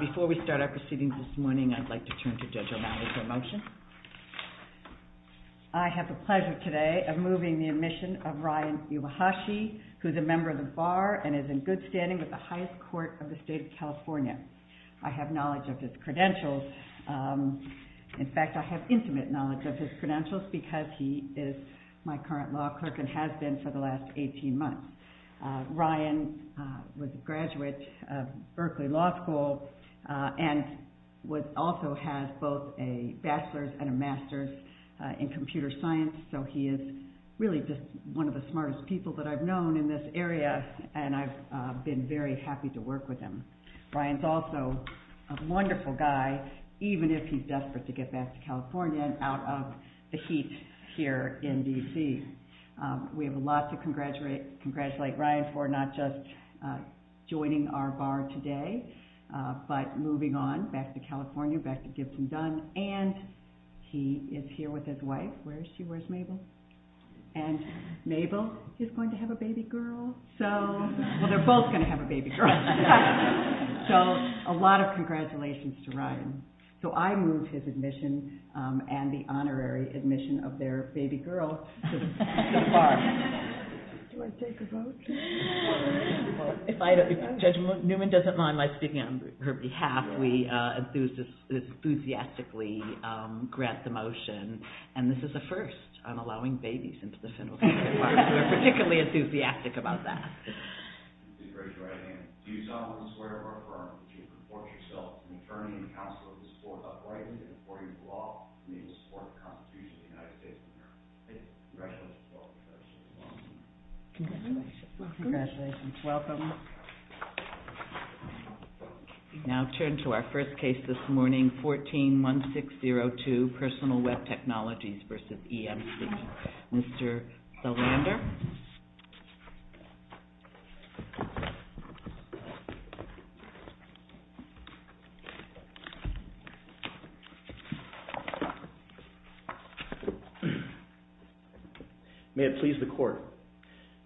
Before we start our proceedings this morning, I'd like to turn to Judge O'Malley for a motion. I have the pleasure today of moving the admission of Ryan Iwahashi, who is a member of the Bar and is in good standing with the highest court of the State of California. I have knowledge of his credentials. In fact, I have intimate knowledge of his credentials because he is my current law clerk and has been for the last 18 months. Ryan was a graduate of Berkeley Law School and also has both a bachelor's and a master's in computer science. So he is really just one of the smartest people that I've known in this area and I've been very happy to work with him. Ryan's also a wonderful guy, even if he's desperate to get back to California and out of the heat here in D.C. We have a lot to congratulate Ryan for, not just joining our Bar today, but moving on back to California, back to Gibson Dunn, and he is here with his wife. Where is she? Where's Mabel? And Mabel is going to have a baby girl. Well, they're both going to have a baby girl. So a lot of congratulations to Ryan. So I moved his admission and the honorary admission of their baby girl to the Bar. Do I take a vote? If Judge Newman doesn't mind my speaking on her behalf, we enthusiastically grant the motion. And this is a first. I'm allowing babies into the Fennell State Bar. We're particularly enthusiastic about that. Do you solemnly swear or affirm that you will report yourself to an attorney and counsel to support the Constitution of the United States of America? I do. Congratulations. Congratulations. Welcome. Now turn to our first case this morning, 14-1602, Personal Web Technologies v. EMC. Mr. Belander. May it please the Court.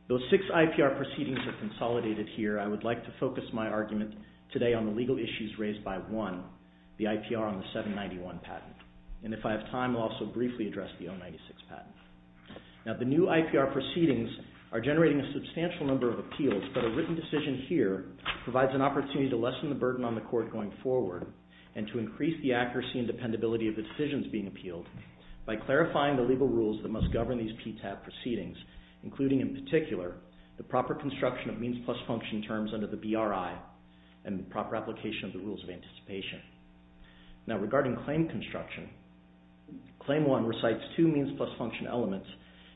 Though six IPR proceedings have consolidated here, I would like to focus my argument today on the legal issues raised by one, the IPR on the 791 patent. And if I have time, I'll also briefly address the 096 patent. Now the new IPR proceedings are generating a substantial number of appeals, but a written decision here provides an opportunity to lessen the burden on the Court going forward and to increase the accuracy and dependability of the decisions being appealed by clarifying the legal rules that must govern these PTAB proceedings, including in particular the proper construction of means plus function terms under the BRI and proper application of the rules of anticipation. Now regarding claim construction, Claim 1 recites two means plus function elements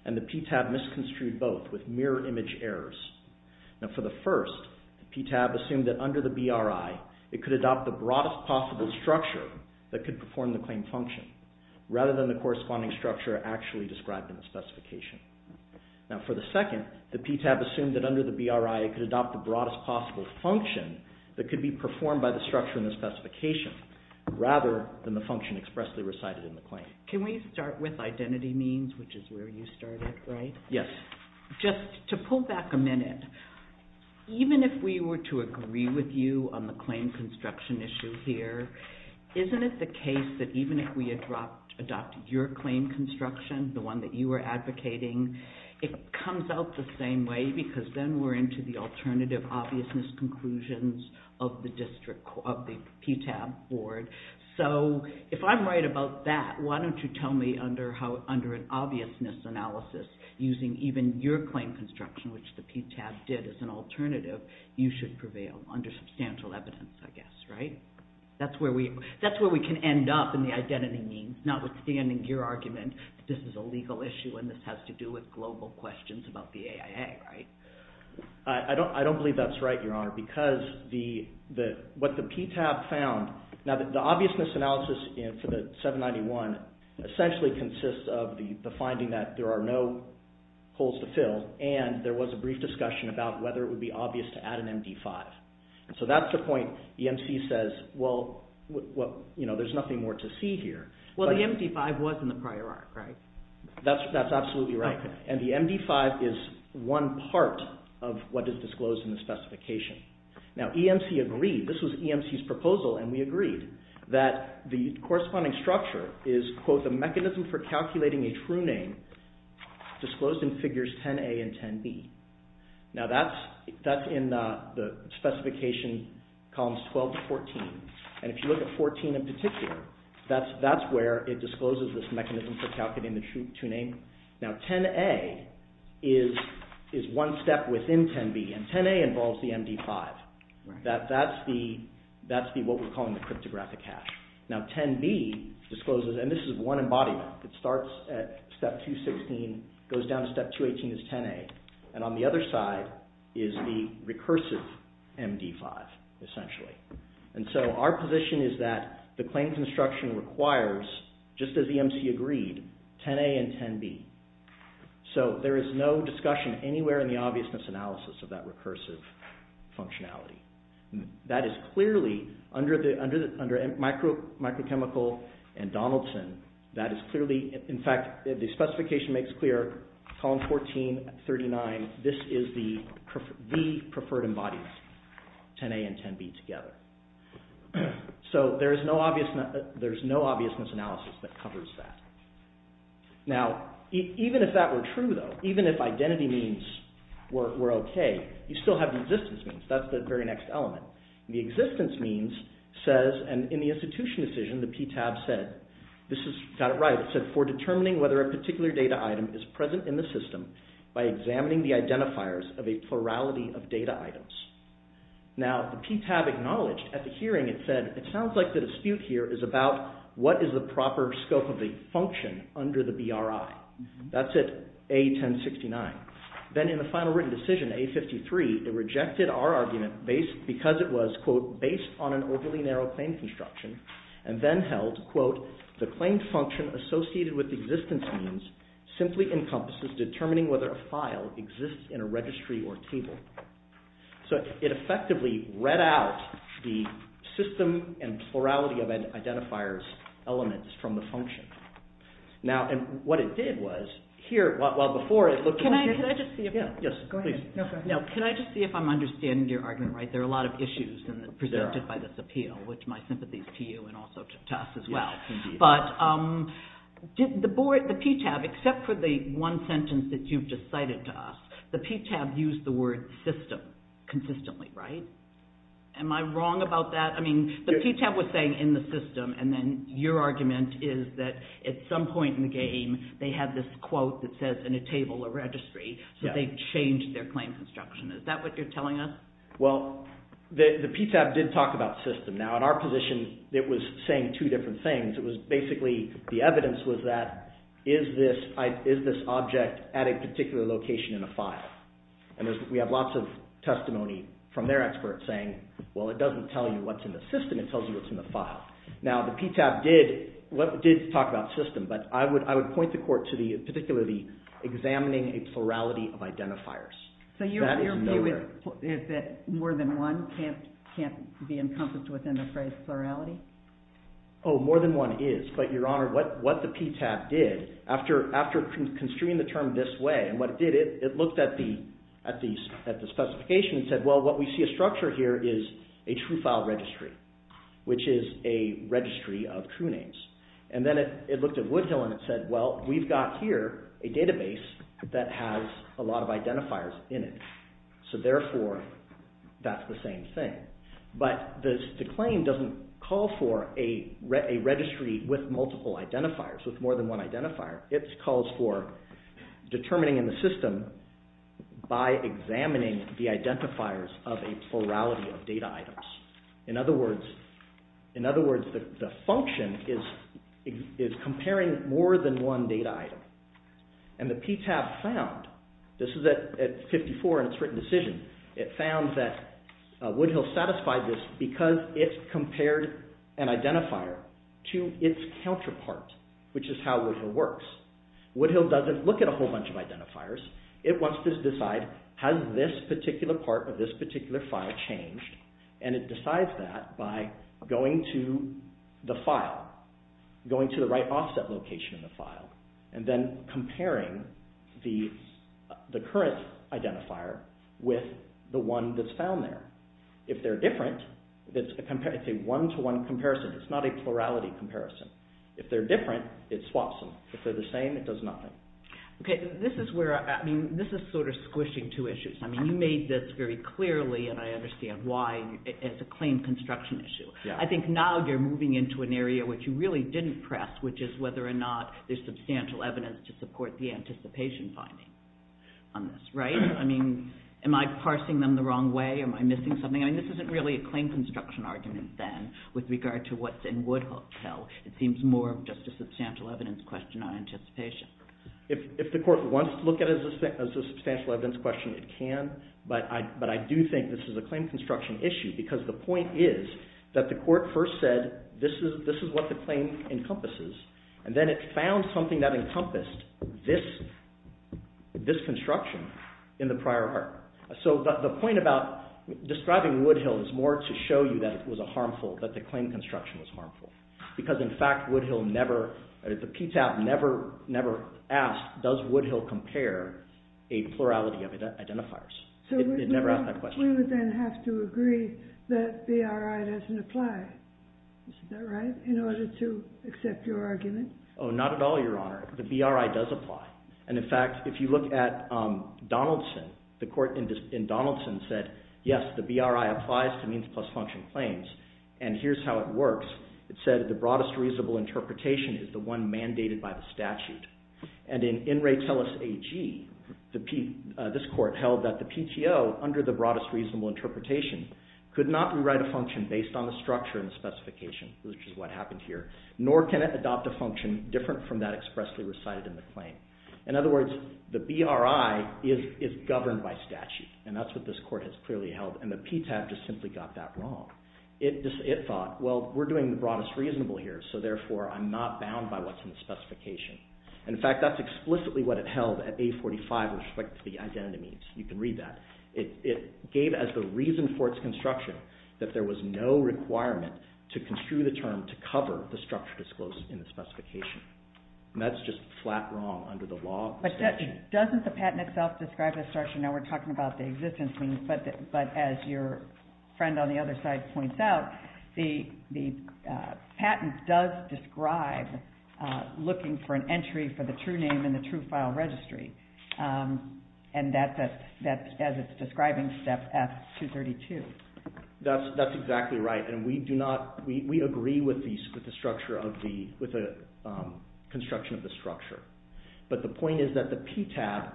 and the PTAB misconstrued both with mirror image errors. Now for the first, the PTAB assumed that under the BRI it could adopt the broadest possible structure that could perform the claim function rather than the corresponding structure actually described in the specification. Now for the second, the PTAB assumed that under the BRI it could adopt the broadest possible function that could be performed by the structure in the specification rather than the function expressly recited in the claim. Can we start with identity means, which is where you started, right? Yes. Just to pull back a minute, even if we were to agree with you on the claim construction issue here, isn't it the case that even if we adopted your claim construction, the one that you were advocating, it comes out the same way because then we're into the alternative obviousness conclusions of the PTAB board. So if I'm right about that, why don't you tell me under an obviousness analysis, using even your claim construction, which the PTAB did as an alternative, you should prevail under substantial evidence, I guess, right? That's where we can end up in the identity means, notwithstanding your argument that this is a legal issue and this has to do with global questions about the AIA, right? I don't believe that's right, Your Honor, because what the PTAB found, now the obviousness analysis for the 791 essentially consists of the finding that there are no holes to fill and there was a brief discussion about whether it would be obvious to add an MD5. So that's the point EMC says, well, there's nothing more to see here. Well, the MD5 was in the prior arc, right? That's absolutely right, and the MD5 is one part of what is disclosed in the specification. Now EMC agreed, this was EMC's proposal, and we agreed that the corresponding structure is, quote, the mechanism for calculating a true name disclosed in figures 10A and 10B. Now that's in the specification columns 12 to 14, and if you look at 14 in particular, that's where it discloses this mechanism for calculating the true name. Now 10A is one step within 10B, and 10A involves the MD5. That's what we're calling the cryptographic hash. Now 10B discloses, and this is one embodiment. It starts at step 216, goes down to step 218 is 10A, and on the other side is the recursive MD5 essentially. And so our position is that the claim construction requires, just as EMC agreed, 10A and 10B. So there is no discussion anywhere in the obviousness analysis of that recursive functionality. That is clearly, under microchemical and Donaldson, that is clearly, in fact, the specification makes clear, column 14, 39, this is the preferred embodiment, 10A and 10B together. So there is no obviousness analysis that covers that. Now even if that were true though, even if identity means were okay, you still have the existence means. That's the very next element. The existence means says, and in the institution decision, the PTAB said, this is, got it right, for determining whether a particular data item is present in the system by examining the identifiers of a plurality of data items. Now the PTAB acknowledged at the hearing it said, it sounds like the dispute here is about what is the proper scope of the function under the BRI. That's it, A1069. Then in the final written decision, A53, it rejected our argument because it was, quote, the claimed function associated with the existence means simply encompasses determining whether a file exists in a registry or table. So it effectively read out the system and plurality of identifiers elements from the function. Now, and what it did was, here, while before it looked at... Can I just see if I'm understanding your argument right? There are a lot of issues presented by this appeal, which my sympathies to you and also to us as well. But the PTAB, except for the one sentence that you've just cited to us, the PTAB used the word system consistently, right? Am I wrong about that? I mean, the PTAB was saying in the system, and then your argument is that at some point in the game, they had this quote that says in a table or registry, so they changed their claims instruction. Is that what you're telling us? Well, the PTAB did talk about system. Now, in our position, it was saying two different things. It was basically, the evidence was that, is this object at a particular location in a file? And we have lots of testimony from their experts saying, well, it doesn't tell you what's in the system. It tells you what's in the file. Now, the PTAB did talk about system, but I would point the court to particularly examining a plurality of identifiers. So your view is that more than one can't be encompassed within the phrase plurality? Oh, more than one is. But, Your Honor, what the PTAB did, after construing the term this way, and what it did, it looked at the specification and said, well, what we see a structure here is a true file registry, which is a registry of true names. And then it looked at Woodhill and it said, well, we've got here a database that has a lot of identifiers in it. So, therefore, that's the same thing. But the claim doesn't call for a registry with multiple identifiers, with more than one identifier. It calls for determining in the system by examining the identifiers of a plurality of data items. In other words, the function is comparing more than one data item. And the PTAB found, this is at 54 in its written decision, it found that Woodhill satisfied this because it compared an identifier to its counterpart, which is how Woodhill works. Woodhill doesn't look at a whole bunch of identifiers. It wants to decide, has this particular part of this particular file changed? And it decides that by going to the file, going to the right offset location in the file, and then comparing the current identifier with the one that's found there. If they're different, it's a one-to-one comparison. It's not a plurality comparison. If they're different, it swaps them. If they're the same, it does nothing. Okay, this is where, I mean, this is sort of squishing two issues. I mean, you made this very clearly, and I understand why, as a claim construction issue. I think now you're moving into an area which you really didn't press, which is whether or not there's substantial evidence to support the anticipation finding on this, right? I mean, am I parsing them the wrong way? Am I missing something? I mean, this isn't really a claim construction argument, then, with regard to what's in Woodhill. It seems more just a substantial evidence question on anticipation. If the court wants to look at it as a substantial evidence question, it can. But I do think this is a claim construction issue because the point is that the court first said, this is what the claim encompasses. And then it found something that encompassed this construction in the prior art. So the point about describing Woodhill is more to show you that it was harmful, that the claim construction was harmful. Because, in fact, Woodhill never, the PTAP never asked, does Woodhill compare a plurality of identifiers? It never asked that question. So we would then have to agree that BRI doesn't apply. Is that right, in order to accept your argument? Oh, not at all, Your Honor. The BRI does apply. And, in fact, if you look at Donaldson, the court in Donaldson said, yes, the BRI applies to means plus function claims. And here's how it works. It said the broadest reasonable interpretation is the one mandated by the statute. And in In Re Tellus AG, this court held that the PTO, under the broadest reasonable interpretation, could not rewrite a function based on the structure and the specification, which is what happened here, nor can it adopt a function different from that expressly recited in the claim. In other words, the BRI is governed by statute. And that's what this court has clearly held. And the PTAP just simply got that wrong. It thought, well, we're doing the broadest reasonable here, so therefore I'm not bound by what's in the specification. In fact, that's explicitly what it held at A45 with respect to the identity means. You can read that. It gave as the reason for its construction that there was no requirement to construe the term to cover the structure disclosed in the specification. And that's just flat wrong under the law. But doesn't the patent itself describe the structure? Now we're talking about the existence means, but as your friend on the other side points out, the patent does describe looking for an entry for the true name in the true file registry. And that's as it's describing step F232. That's exactly right. And we agree with the construction of the structure. But the point is that the PTAP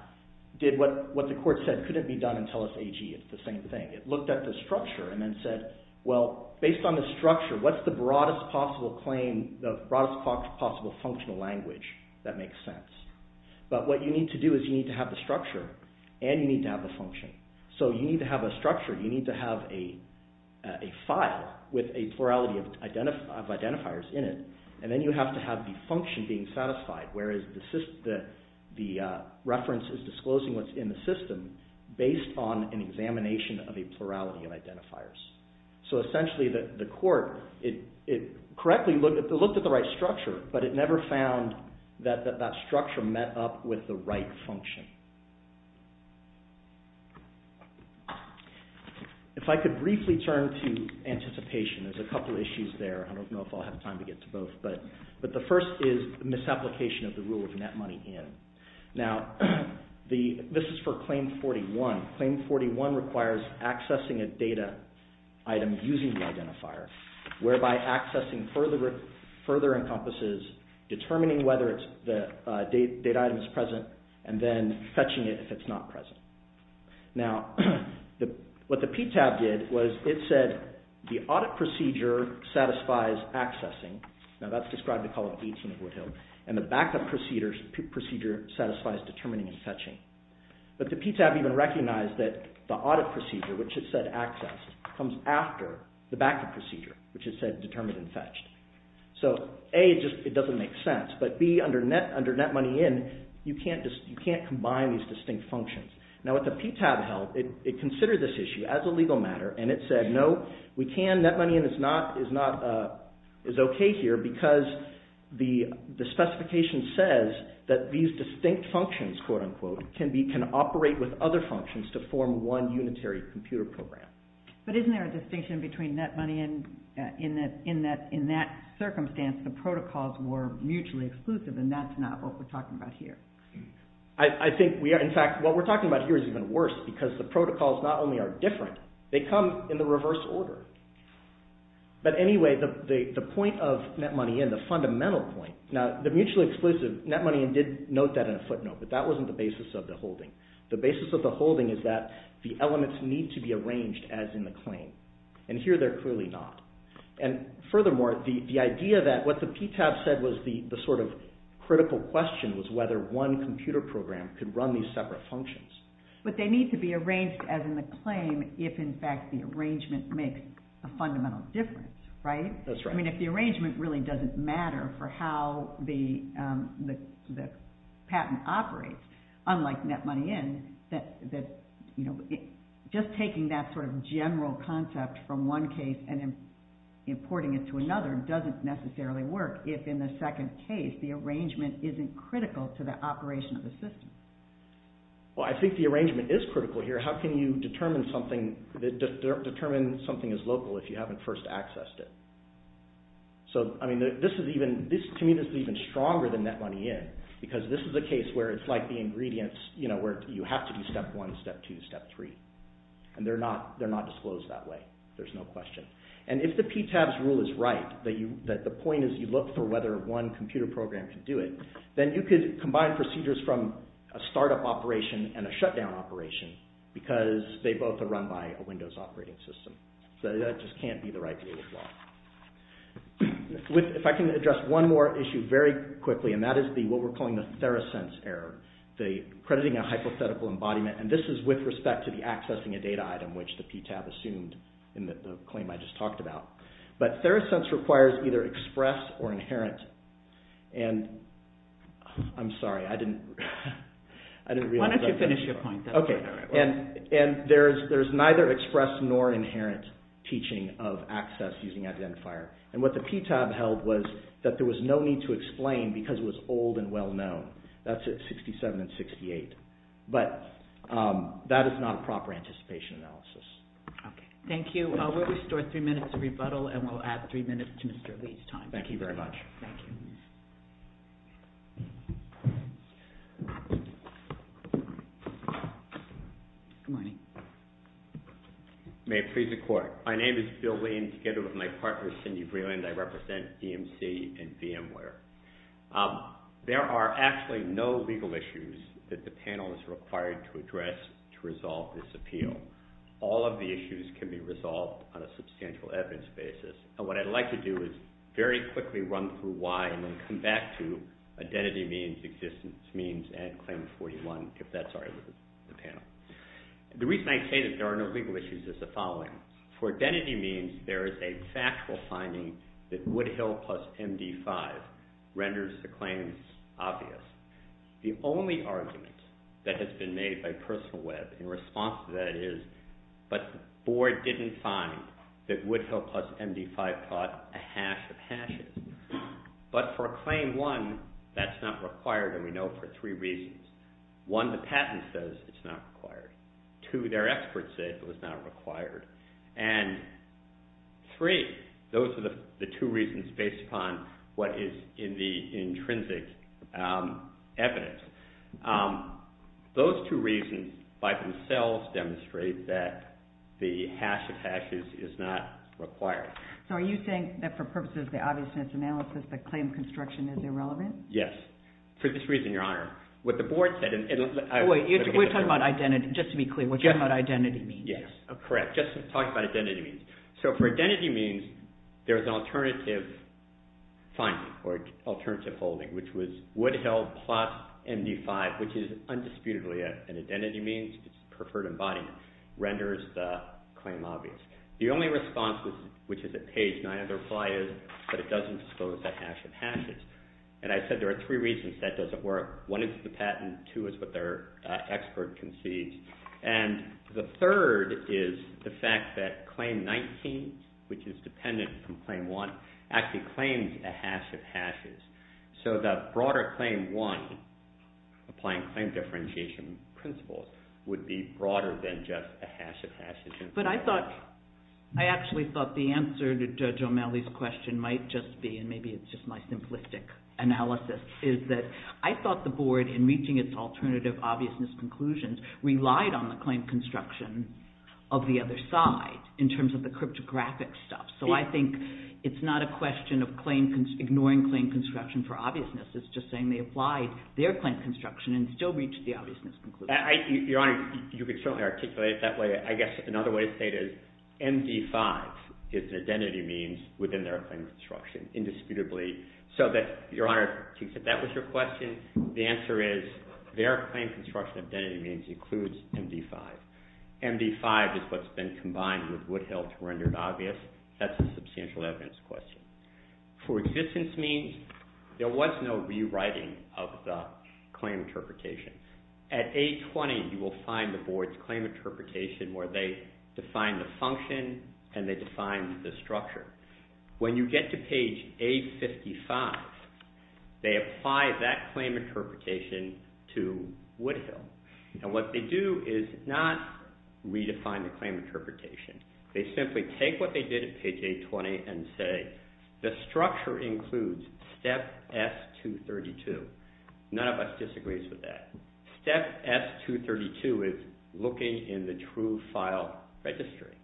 did what the court said couldn't be done until it's AG. It's the same thing. It looked at the structure and then said, well, based on the structure, what's the broadest possible claim, the broadest possible functional language that makes sense? But what you need to do is you need to have the structure and you need to have the function. So you need to have a structure. You need to have a file with a plurality of identifiers in it, and then you have to have the function being satisfied, whereas the reference is disclosing what's in the system based on an examination of a plurality of identifiers. So essentially the court, it correctly looked at the right structure, but it never found that that structure met up with the right function. If I could briefly turn to anticipation, there's a couple of issues there. I don't know if I'll have time to get to both, but the first is misapplication of the rule of net money in. Now, this is for Claim 41. Claim 41 requires accessing a data item using the identifier, whereby accessing further encompasses determining whether the data item is present and then fetching it if it's not present. Now, what the PTAB did was it said the audit procedure satisfies accessing. Now, that's described to call it gates in the Woodhill. And the backup procedure satisfies determining and fetching. But the PTAB even recognized that the audit procedure, which it said access, comes after the backup procedure, which it said determined and fetched. So, A, it doesn't make sense, but B, under net money in, you can't combine these distinct functions. Now, what the PTAB held, it considered this issue as a legal matter and it said, no, we can, net money in is okay here because the specification says that these distinct functions, quote, unquote, can operate with other functions to form one unitary computer program. But isn't there a distinction between net money in in that, in that circumstance, the protocols were mutually exclusive and that's not what we're talking about here? I think we are, in fact, what we're talking about here is even worse because the protocols not only are different, they come in the reverse order. But anyway, the point of net money in, the fundamental point, now, the mutually exclusive, net money in did note that in a footnote, but that wasn't the basis of the holding. The basis of the holding is that the elements need to be arranged as in the claim, and here they're clearly not. And furthermore, the idea that what the PTAB said was the sort of critical question was whether one computer program could run these separate functions. But they need to be arranged as in the claim if, in fact, the arrangement makes a fundamental difference, right? That's right. But, I mean, if the arrangement really doesn't matter for how the patent operates, unlike net money in, that, you know, just taking that sort of general concept from one case and importing it to another doesn't necessarily work if, in the second case, the arrangement isn't critical to the operation of the system. Well, I think the arrangement is critical here. How can you determine something as local if you haven't first accessed it? So, I mean, this is even, to me, this is even stronger than net money in, because this is a case where it's like the ingredients, you know, where you have to do step one, step two, step three, and they're not disclosed that way. There's no question. And if the PTAB's rule is right, that the point is you look for whether one computer program can do it, then you could combine procedures from a startup operation and a shutdown operation because they both are run by a Windows operating system. So that just can't be the right way to go. If I can address one more issue very quickly, and that is what we're calling the Theracense error, the crediting a hypothetical embodiment, and this is with respect to the accessing a data item, which the PTAB assumed in the claim I just talked about. But Theracense requires either express or inherent, and I'm sorry, I didn't realize that. Why don't you finish your point? Okay, and there's neither express nor inherent teaching of access using identifier. And what the PTAB held was that there was no need to explain because it was old and well-known. That's at 67 and 68. But that is not a proper anticipation analysis. Okay, thank you. We'll restore three minutes of rebuttal, and we'll add three minutes to Mr. Lee's time. Thank you very much. Thank you. Good morning. May it please the Court. My name is Bill Lee, and together with my partner, Cindy Vreeland, I represent EMC and VMware. There are actually no legal issues that the panel is required to address to resolve this appeal. All of the issues can be resolved on a substantial evidence basis. And what I'd like to do is very quickly run through why, and then come back to identity means, existence means, and Claim 41, if that's all right with the panel. The reason I say that there are no legal issues is the following. For identity means, there is a factual finding that Woodhill plus MD5 renders the claims obvious. The only argument that has been made by Personal Web in response to that is, but the Board didn't find that Woodhill plus MD5 taught a hash of hashes. But for Claim 1, that's not required, and we know for three reasons. One, the patent says it's not required. Two, their experts say it was not required. And three, those are the two reasons based upon what is in the intrinsic evidence. Those two reasons by themselves demonstrate that the hash of hashes is not required. So are you saying that for purposes of the obviousness analysis, the claim construction is irrelevant? Yes, for this reason, Your Honor. What the Board said in... Wait, we're talking about identity. Just to be clear, we're talking about identity means. Yes, correct, just talking about identity means. So for identity means, there's an alternative finding or alternative holding, which was Woodhill plus MD5, which is undisputedly an identity means, it's preferred embodiment, renders the claim obvious. The only response, which is at page 9 of the reply, is that it doesn't disclose the hash of hashes. And I said there are three reasons that doesn't work. One is the patent. Two is what their expert concedes. And the third is the fact that Claim 19, which is dependent from Claim 1, actually claims a hash of hashes. So that broader Claim 1, applying claim differentiation principles, would be broader than just a hash of hashes. But I thought, I actually thought the answer to Judge O'Malley's question might just be, and maybe it's just my simplistic analysis, is that I thought the Board, in reaching its alternative obviousness conclusions, relied on the claim construction of the other side, in terms of the cryptographic stuff. So I think it's not a question of ignoring claim construction for obviousness. It's just saying they applied their claim construction and still reached the obviousness conclusion. Your Honor, you could certainly articulate it that way. I guess another way to say it is MD5 is an identity means within their claim construction, indisputably. So that, Your Honor, if that was your question, the answer is their claim construction identity means includes MD5. MD5 is what's been combined with Woodhill to render it obvious. That's a substantial evidence question. For existence means, there was no rewriting of the claim interpretation. At A20, you will find the Board's claim interpretation where they define the function and they define the structure. When you get to page A55, they apply that claim interpretation to Woodhill. And what they do is not redefine the claim interpretation. They simply take what they did at page A20 and say, the structure includes step S232. None of us disagrees with that. Step S232 is looking in the true file registry.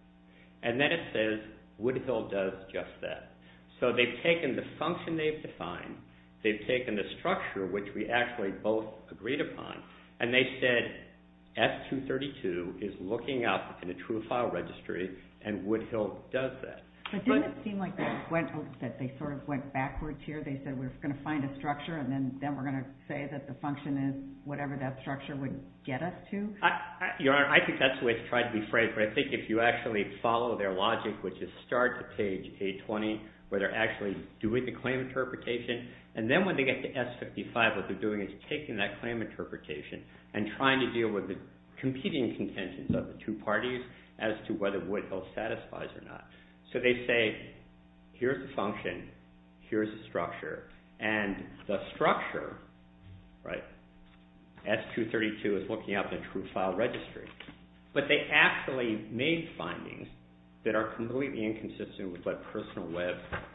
And then it says Woodhill does just that. So they've taken the function they've defined, they've taken the structure which we actually both agreed upon, and they said S232 is looking up in the true file registry and Woodhill does that. But didn't it seem like they sort of went backwards here? They said we're going to find a structure and then we're going to say that the function is whatever that structure would get us to? Your Honor, I think that's the way to try to be frank. But I think if you actually follow their logic which is start at page A20 where they're actually doing the claim interpretation, and then when they get to S55 what they're doing is taking that claim interpretation and trying to deal with the competing intentions of the two parties as to whether Woodhill satisfies or not. So they say here's the function, here's the structure, and the structure, S232, is looking up the true file registry. But they actually made findings that are completely inconsistent with what Personal Web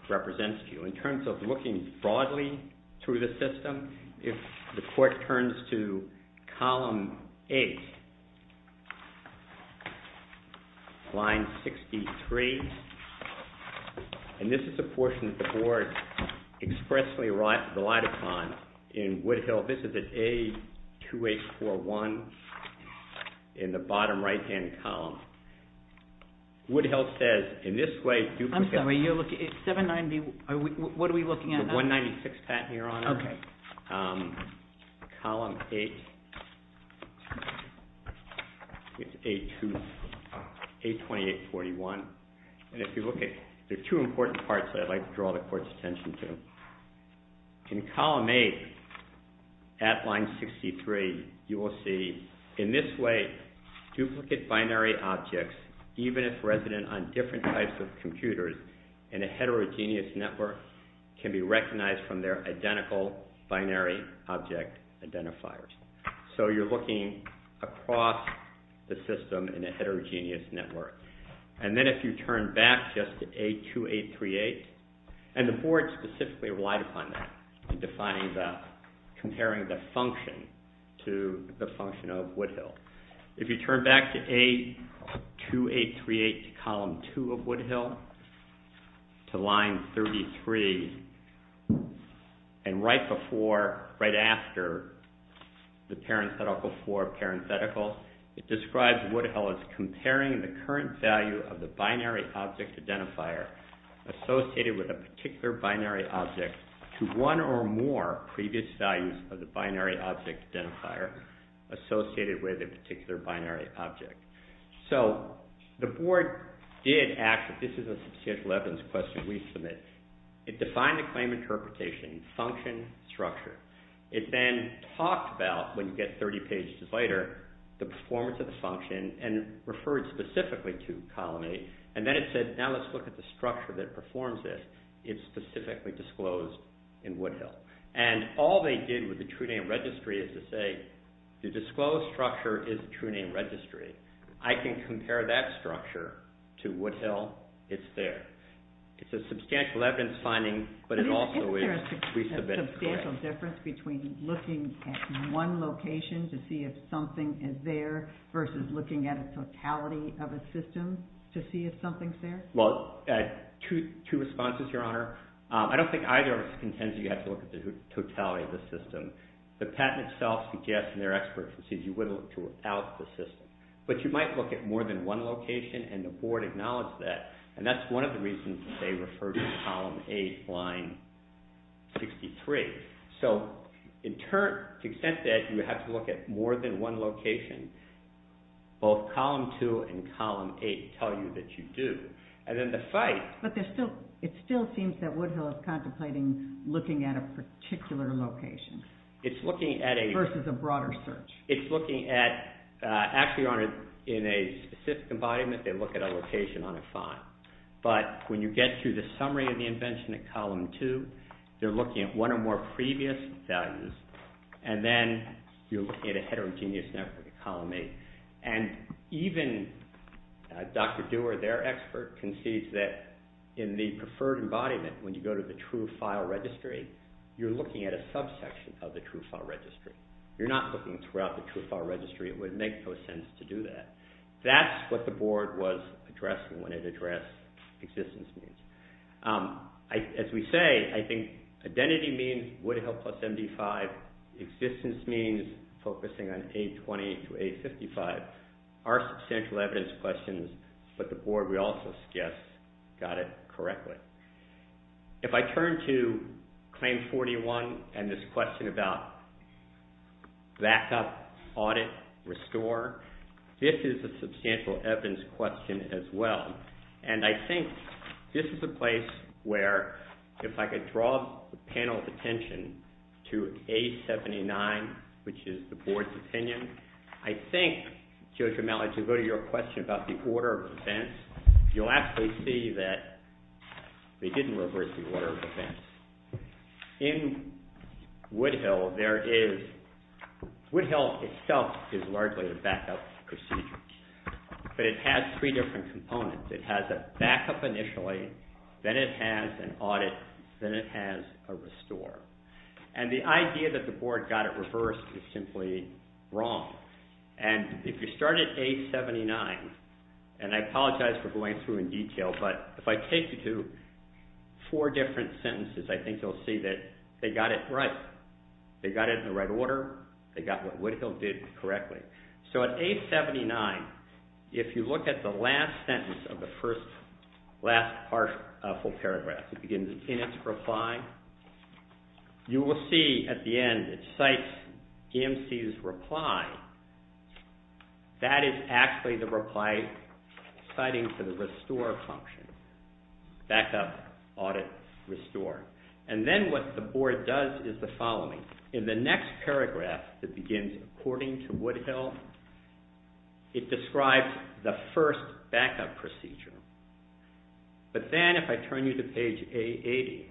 represents to you. In terms of looking broadly through the system, if the Court turns to column A, line 63, and this is the portion that the Board expressly relied upon in Woodhill. This is at A2841 in the bottom right-hand column. Woodhill says in this way... I'm sorry, what are we looking at now? The 196 patent, Your Honor. Okay. Column 8, it's A2841. There are two important parts that I'd like to draw the Court's attention to. In column 8 at line 63, you will see in this way duplicate binary objects, even if resident on different types of computers in a heterogeneous network, can be recognized from their identical binary object identifiers. So you're looking across the system in a heterogeneous network. And then if you turn back just to A2838, and the Board specifically relied upon that in comparing the function to the function of Woodhill. If you turn back to A2838, column 2 of Woodhill, to line 33, and right after the parenthetical for parenthetical, it describes Woodhill as comparing the current value of the binary object identifier associated with a particular binary object to one or more previous values of the binary object identifier associated with a particular binary object. So the Board did ask... This is a substantial evidence question we submit. It defined the claim interpretation, function, structure. It then talked about, when you get 30 pages later, the performance of the function and referred specifically to column 8. And then it said, now let's look at the structure that performs this. It's specifically disclosed in Woodhill. And all they did with the TrueName Registry is to say, the disclosed structure is the TrueName Registry. I can compare that structure to Woodhill. It's there. It's a substantial evidence finding, but it also is... Isn't there a substantial difference between looking at one location to see if something is there versus looking at a totality of a system to see if something is there? Well, two responses, Your Honor. I don't think either of us contends you have to look at the totality of the system. The patent itself suggests, and they're experts, that you would look to without the system. But you might look at more than one location, and the Board acknowledged that. And that's one of the reasons they referred to column 8, line 63. So to the extent that you have to look at more than one location, both column 2 and column 8 tell you that you do. And then the fight... But it still seems that Woodhill is contemplating looking at a particular location. It's looking at a... Versus a broader search. It's looking at... Actually, in a specific embodiment, they look at a location on a font. But when you get to the summary of the invention at column 2, they're looking at one or more previous values, and then you're looking at a heterogeneous network at column 8. And even Dr. Dewar, their expert, concedes that in the preferred embodiment, when you go to the true file registry, you're looking at a subsection of the true file registry. You're not looking throughout the true file registry. It would make no sense to do that. That's what the Board was addressing when it addressed existence needs. As we say, I think identity means Woodhill plus MD5. Existence means focusing on A20 to A55 are substantial evidence questions, but the Board, we also suggest, got it correctly. If I turn to Claim 41 and this question about backup, audit, restore, this is a substantial evidence question as well. And I think this is a place where, if I could draw the panel's attention to A79, which is the Board's opinion, I think, Judge O'Malley, to go to your question about the order of events, you'll actually see that they didn't reverse the order of events. In Woodhill, there is—Woodhill itself is largely a backup procedure, but it has three different components. It has a backup initially, then it has an audit, then it has a restore. And the idea that the Board got it reversed is simply wrong. And if you start at A79, and I apologize for going through in detail, but if I take you to four different sentences, I think you'll see that they got it right. They got it in the right order. They got what Woodhill did correctly. So at A79, if you look at the last sentence of the first—last full paragraph, it begins, In its reply, you will see at the end it cites EMC's reply. That is actually the reply citing for the restore function. Backup, audit, restore. In the next paragraph, it begins, According to Woodhill, it describes the first backup procedure. But then if I turn you to page A80,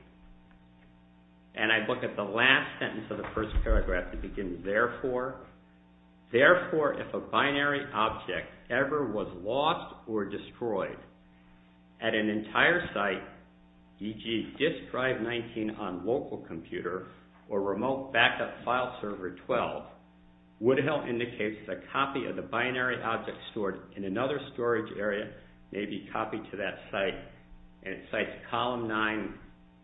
and I look at the last sentence of the first paragraph, it begins, Therefore, if a binary object ever was lost or destroyed at an entire site, e.g., disk drive 19 on local computer or remote backup file server 12, Woodhill indicates that a copy of the binary object stored in another storage area may be copied to that site, and it cites column 9,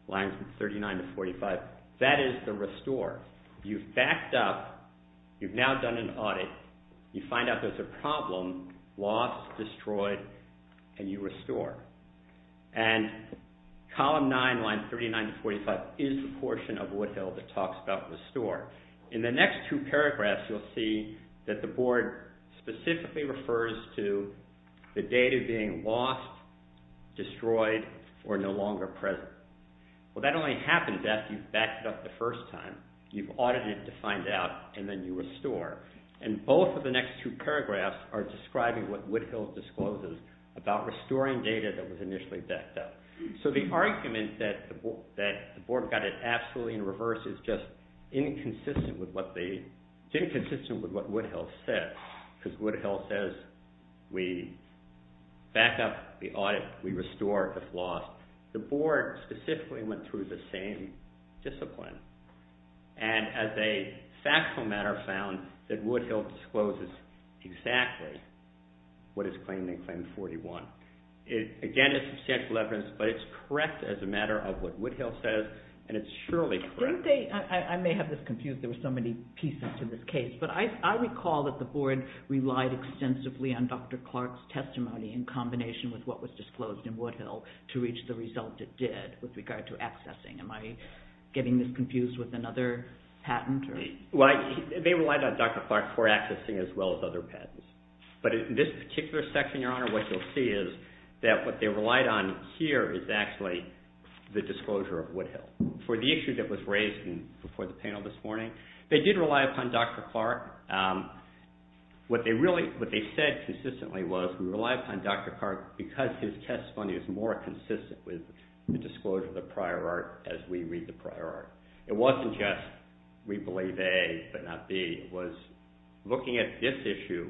lines 39 to 45. That is the restore. You've backed up. You've now done an audit. You find out there's a problem, lost, destroyed, and you restore. And column 9, lines 39 to 45, is the portion of Woodhill that talks about restore. In the next two paragraphs, you'll see that the board specifically refers to the data being lost, destroyed, or no longer present. Well, that only happens after you've backed it up the first time. You've audited to find out, and then you restore. And both of the next two paragraphs are describing what Woodhill discloses about restoring data that was initially backed up. So the argument that the board got it absolutely in reverse is just inconsistent with what Woodhill said, because Woodhill says we back up, we audit, we restore if lost. The board specifically went through the same discipline, and as a factual matter, found that Woodhill discloses exactly what is claimed in Claim 41. Again, it's substantial evidence, but it's correct as a matter of what Woodhill says, and it's surely correct. I may have this confused. There were so many pieces to this case. But I recall that the board relied extensively on Dr. Clark's testimony in combination with what was disclosed in Woodhill to reach the result it did with regard to accessing. Am I getting this confused with another patent? They relied on Dr. Clark for accessing as well as other patents. But in this particular section, Your Honor, what you'll see is that what they relied on here is actually the disclosure of Woodhill. For the issue that was raised before the panel this morning, they did rely upon Dr. Clark. What they said consistently was we rely upon Dr. Clark because his testimony is more consistent with the disclosure of the prior art as we read the prior art. It wasn't just we believe A but not B. It was looking at this issue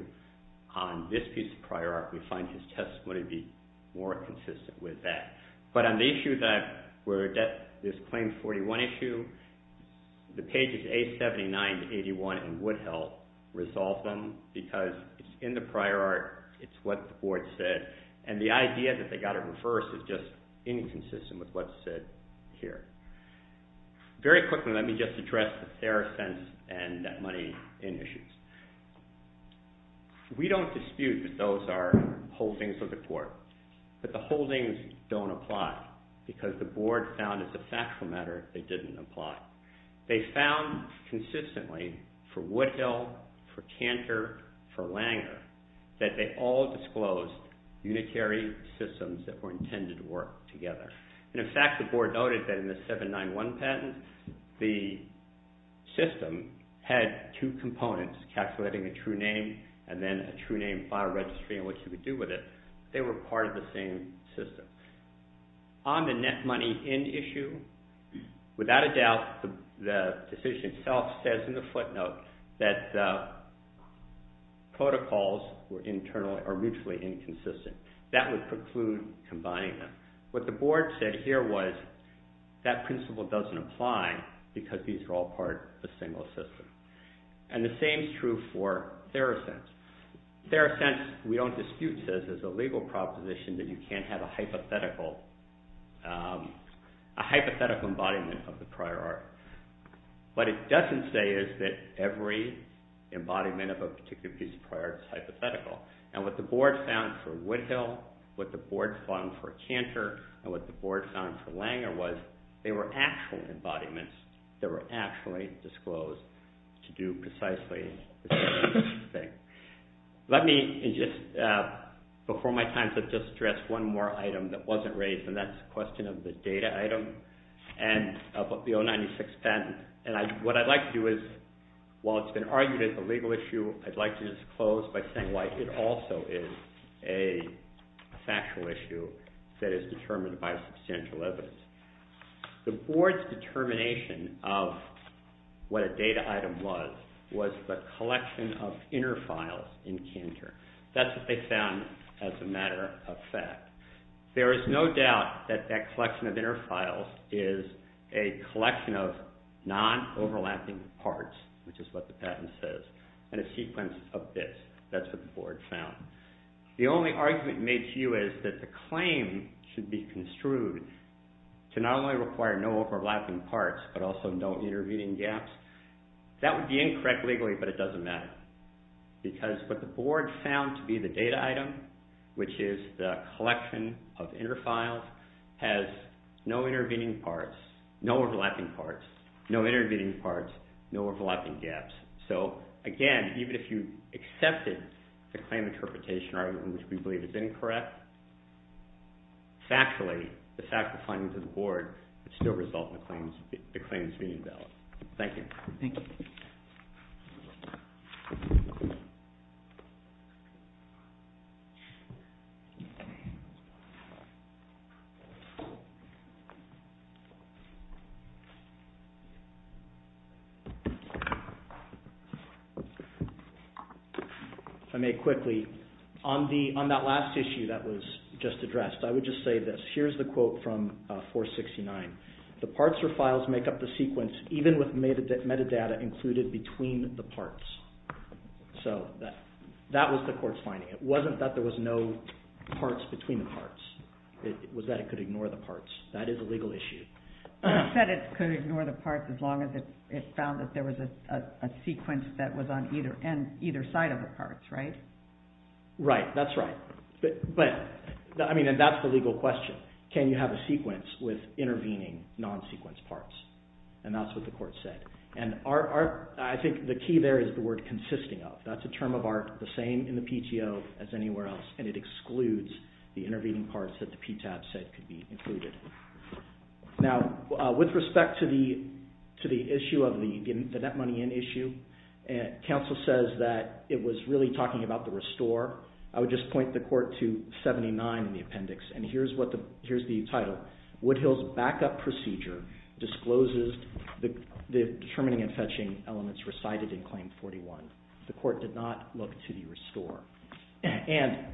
on this piece of prior art, we find his testimony to be more consistent with that. But on the issue that is Claim 41 issue, the pages A79 to 81 in Woodhill resolve them because it's in the prior art. It's what the board said. And the idea that they got it reversed is just inconsistent with what's said here. Very quickly, let me just address the fair sense and that money in issues. We don't dispute that those are holdings of the court. But the holdings don't apply because the board found as a factual matter they didn't apply. They found consistently for Woodhill, for Cantor, for Langer that they all disclosed unitary systems that were intended to work together. And in fact, the board noted that in the 791 patent, the system had two components, calculating a true name and then a true name file registry and what you would do with it. They were part of the same system. On the net money in issue, without a doubt, the decision itself says in the footnote that the protocols are mutually inconsistent. That would preclude combining them. What the board said here was that principle doesn't apply because these are all part of a single system. And the same is true for fair sense. Fair sense, we don't dispute, says there's a legal proposition that you can't have a hypothetical embodiment of the prior art. What it doesn't say is that every embodiment of a particular piece of prior art is hypothetical. And what the board found for Woodhill, what the board found for Cantor, and what the board found for Langer was they were actual embodiments that were actually disclosed to do precisely the same thing. Before my time, I'd just like to address one more item that wasn't raised and that's the question of the data item of the 096 patent. What I'd like to do is, while it's been argued as a legal issue, I'd like to just close by saying why it also is a factual issue that is determined by substantial evidence. The board's determination of what a data item was was the collection of inner files in Cantor. That's what they found as a matter of fact. There is no doubt that that collection of inner files is a collection of non-overlapping parts, which is what the patent says. And a sequence of bits, that's what the board found. The only argument made to you is that the claim should be construed to not only require no overlapping parts, but also no intervening gaps. That would be incorrect legally, but it doesn't matter. Because what the board found to be the data item, which is the collection of inner files, has no intervening parts, no overlapping parts, no intervening parts, no overlapping gaps. So again, even if you accepted the claim interpretation argument, which we believe is incorrect, factually, the fact of finding to the board would still result in the claims being invalid. Thank you. Thank you. If I may quickly, on that last issue that was just addressed, I would just say this. Here's the quote from 469. The parts or files make up the sequence, even with metadata included between the parts. So that was the court's finding. It wasn't that there was no parts between the parts. It was that it could ignore the parts. That is a legal issue. But it said it could ignore the parts as long as it found that there was a sequence that was on either side of the parts, right? Right, that's right. But, I mean, and that's the legal question. Can you have a sequence with intervening non-sequence parts? And that's what the court said. And I think the key there is the word consisting of. That's a term of art the same in the PTO as anywhere else, and it excludes the intervening parts that the PTAB said could be included. Now, with respect to the issue of the net money in issue, counsel says that it was really talking about the restore. I would just point the court to 79 in the appendix, and here's the title. Woodhill's backup procedure discloses the determining and fetching elements recited in Claim 41. The court did not look to the restore. And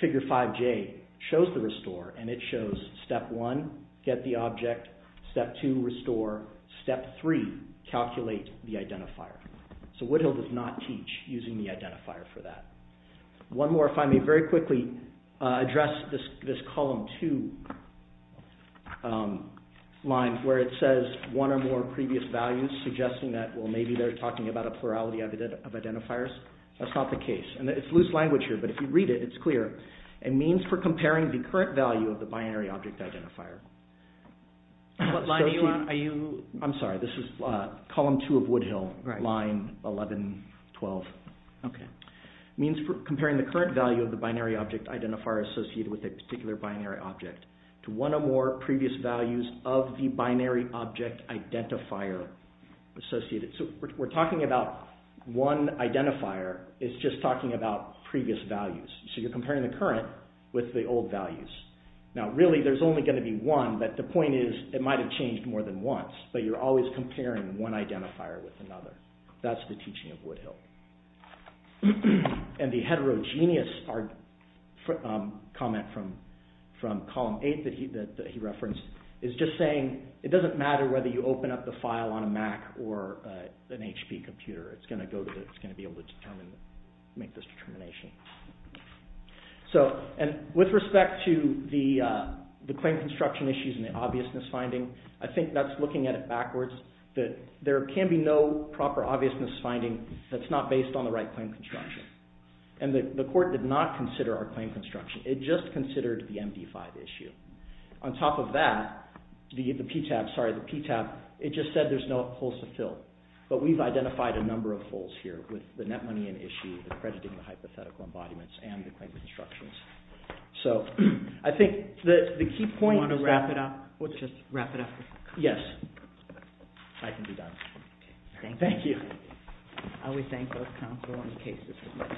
Figure 5J shows the restore, and it shows Step 1, get the object. Step 2, restore. Step 3, calculate the identifier. So Woodhill does not teach using the identifier for that. One more, if I may very quickly address this Column 2 line where it says one or more previous values suggesting that, well, maybe they're talking about a plurality of identifiers. That's not the case. And it's loose language here, but if you read it, it's clear. It means for comparing the current value of the binary object identifier. What line are you on? I'm sorry, this is Column 2 of Woodhill, line 1112. It means for comparing the current value of the binary object identifier associated with a particular binary object to one or more previous values of the binary object identifier associated. So we're talking about one identifier. It's just talking about previous values. So you're comparing the current with the old values. Now, really, there's only going to be one, but the point is it might have changed more than once, but you're always comparing one identifier with another. That's the teaching of Woodhill. And the heterogeneous comment from Column 8 that he referenced is just saying it doesn't matter whether you open up the file on a Mac or an HP computer. It's going to be able to make this determination. And with respect to the claim construction issues and the obviousness finding, I think that's looking at it backwards, that there can be no proper obviousness finding that's not based on the right claim construction. And the court did not consider our claim construction. It just considered the MD5 issue. On top of that, the PTAB, sorry, the PTAB, it just said there's no holes to fill. But we've identified a number of holes here with the net money in issue and crediting the hypothetical embodiments and the claim constructions. So I think the key point is that... Do you want to wrap it up? Yes. I can do that. Thank you. I would thank both counsel and the cases.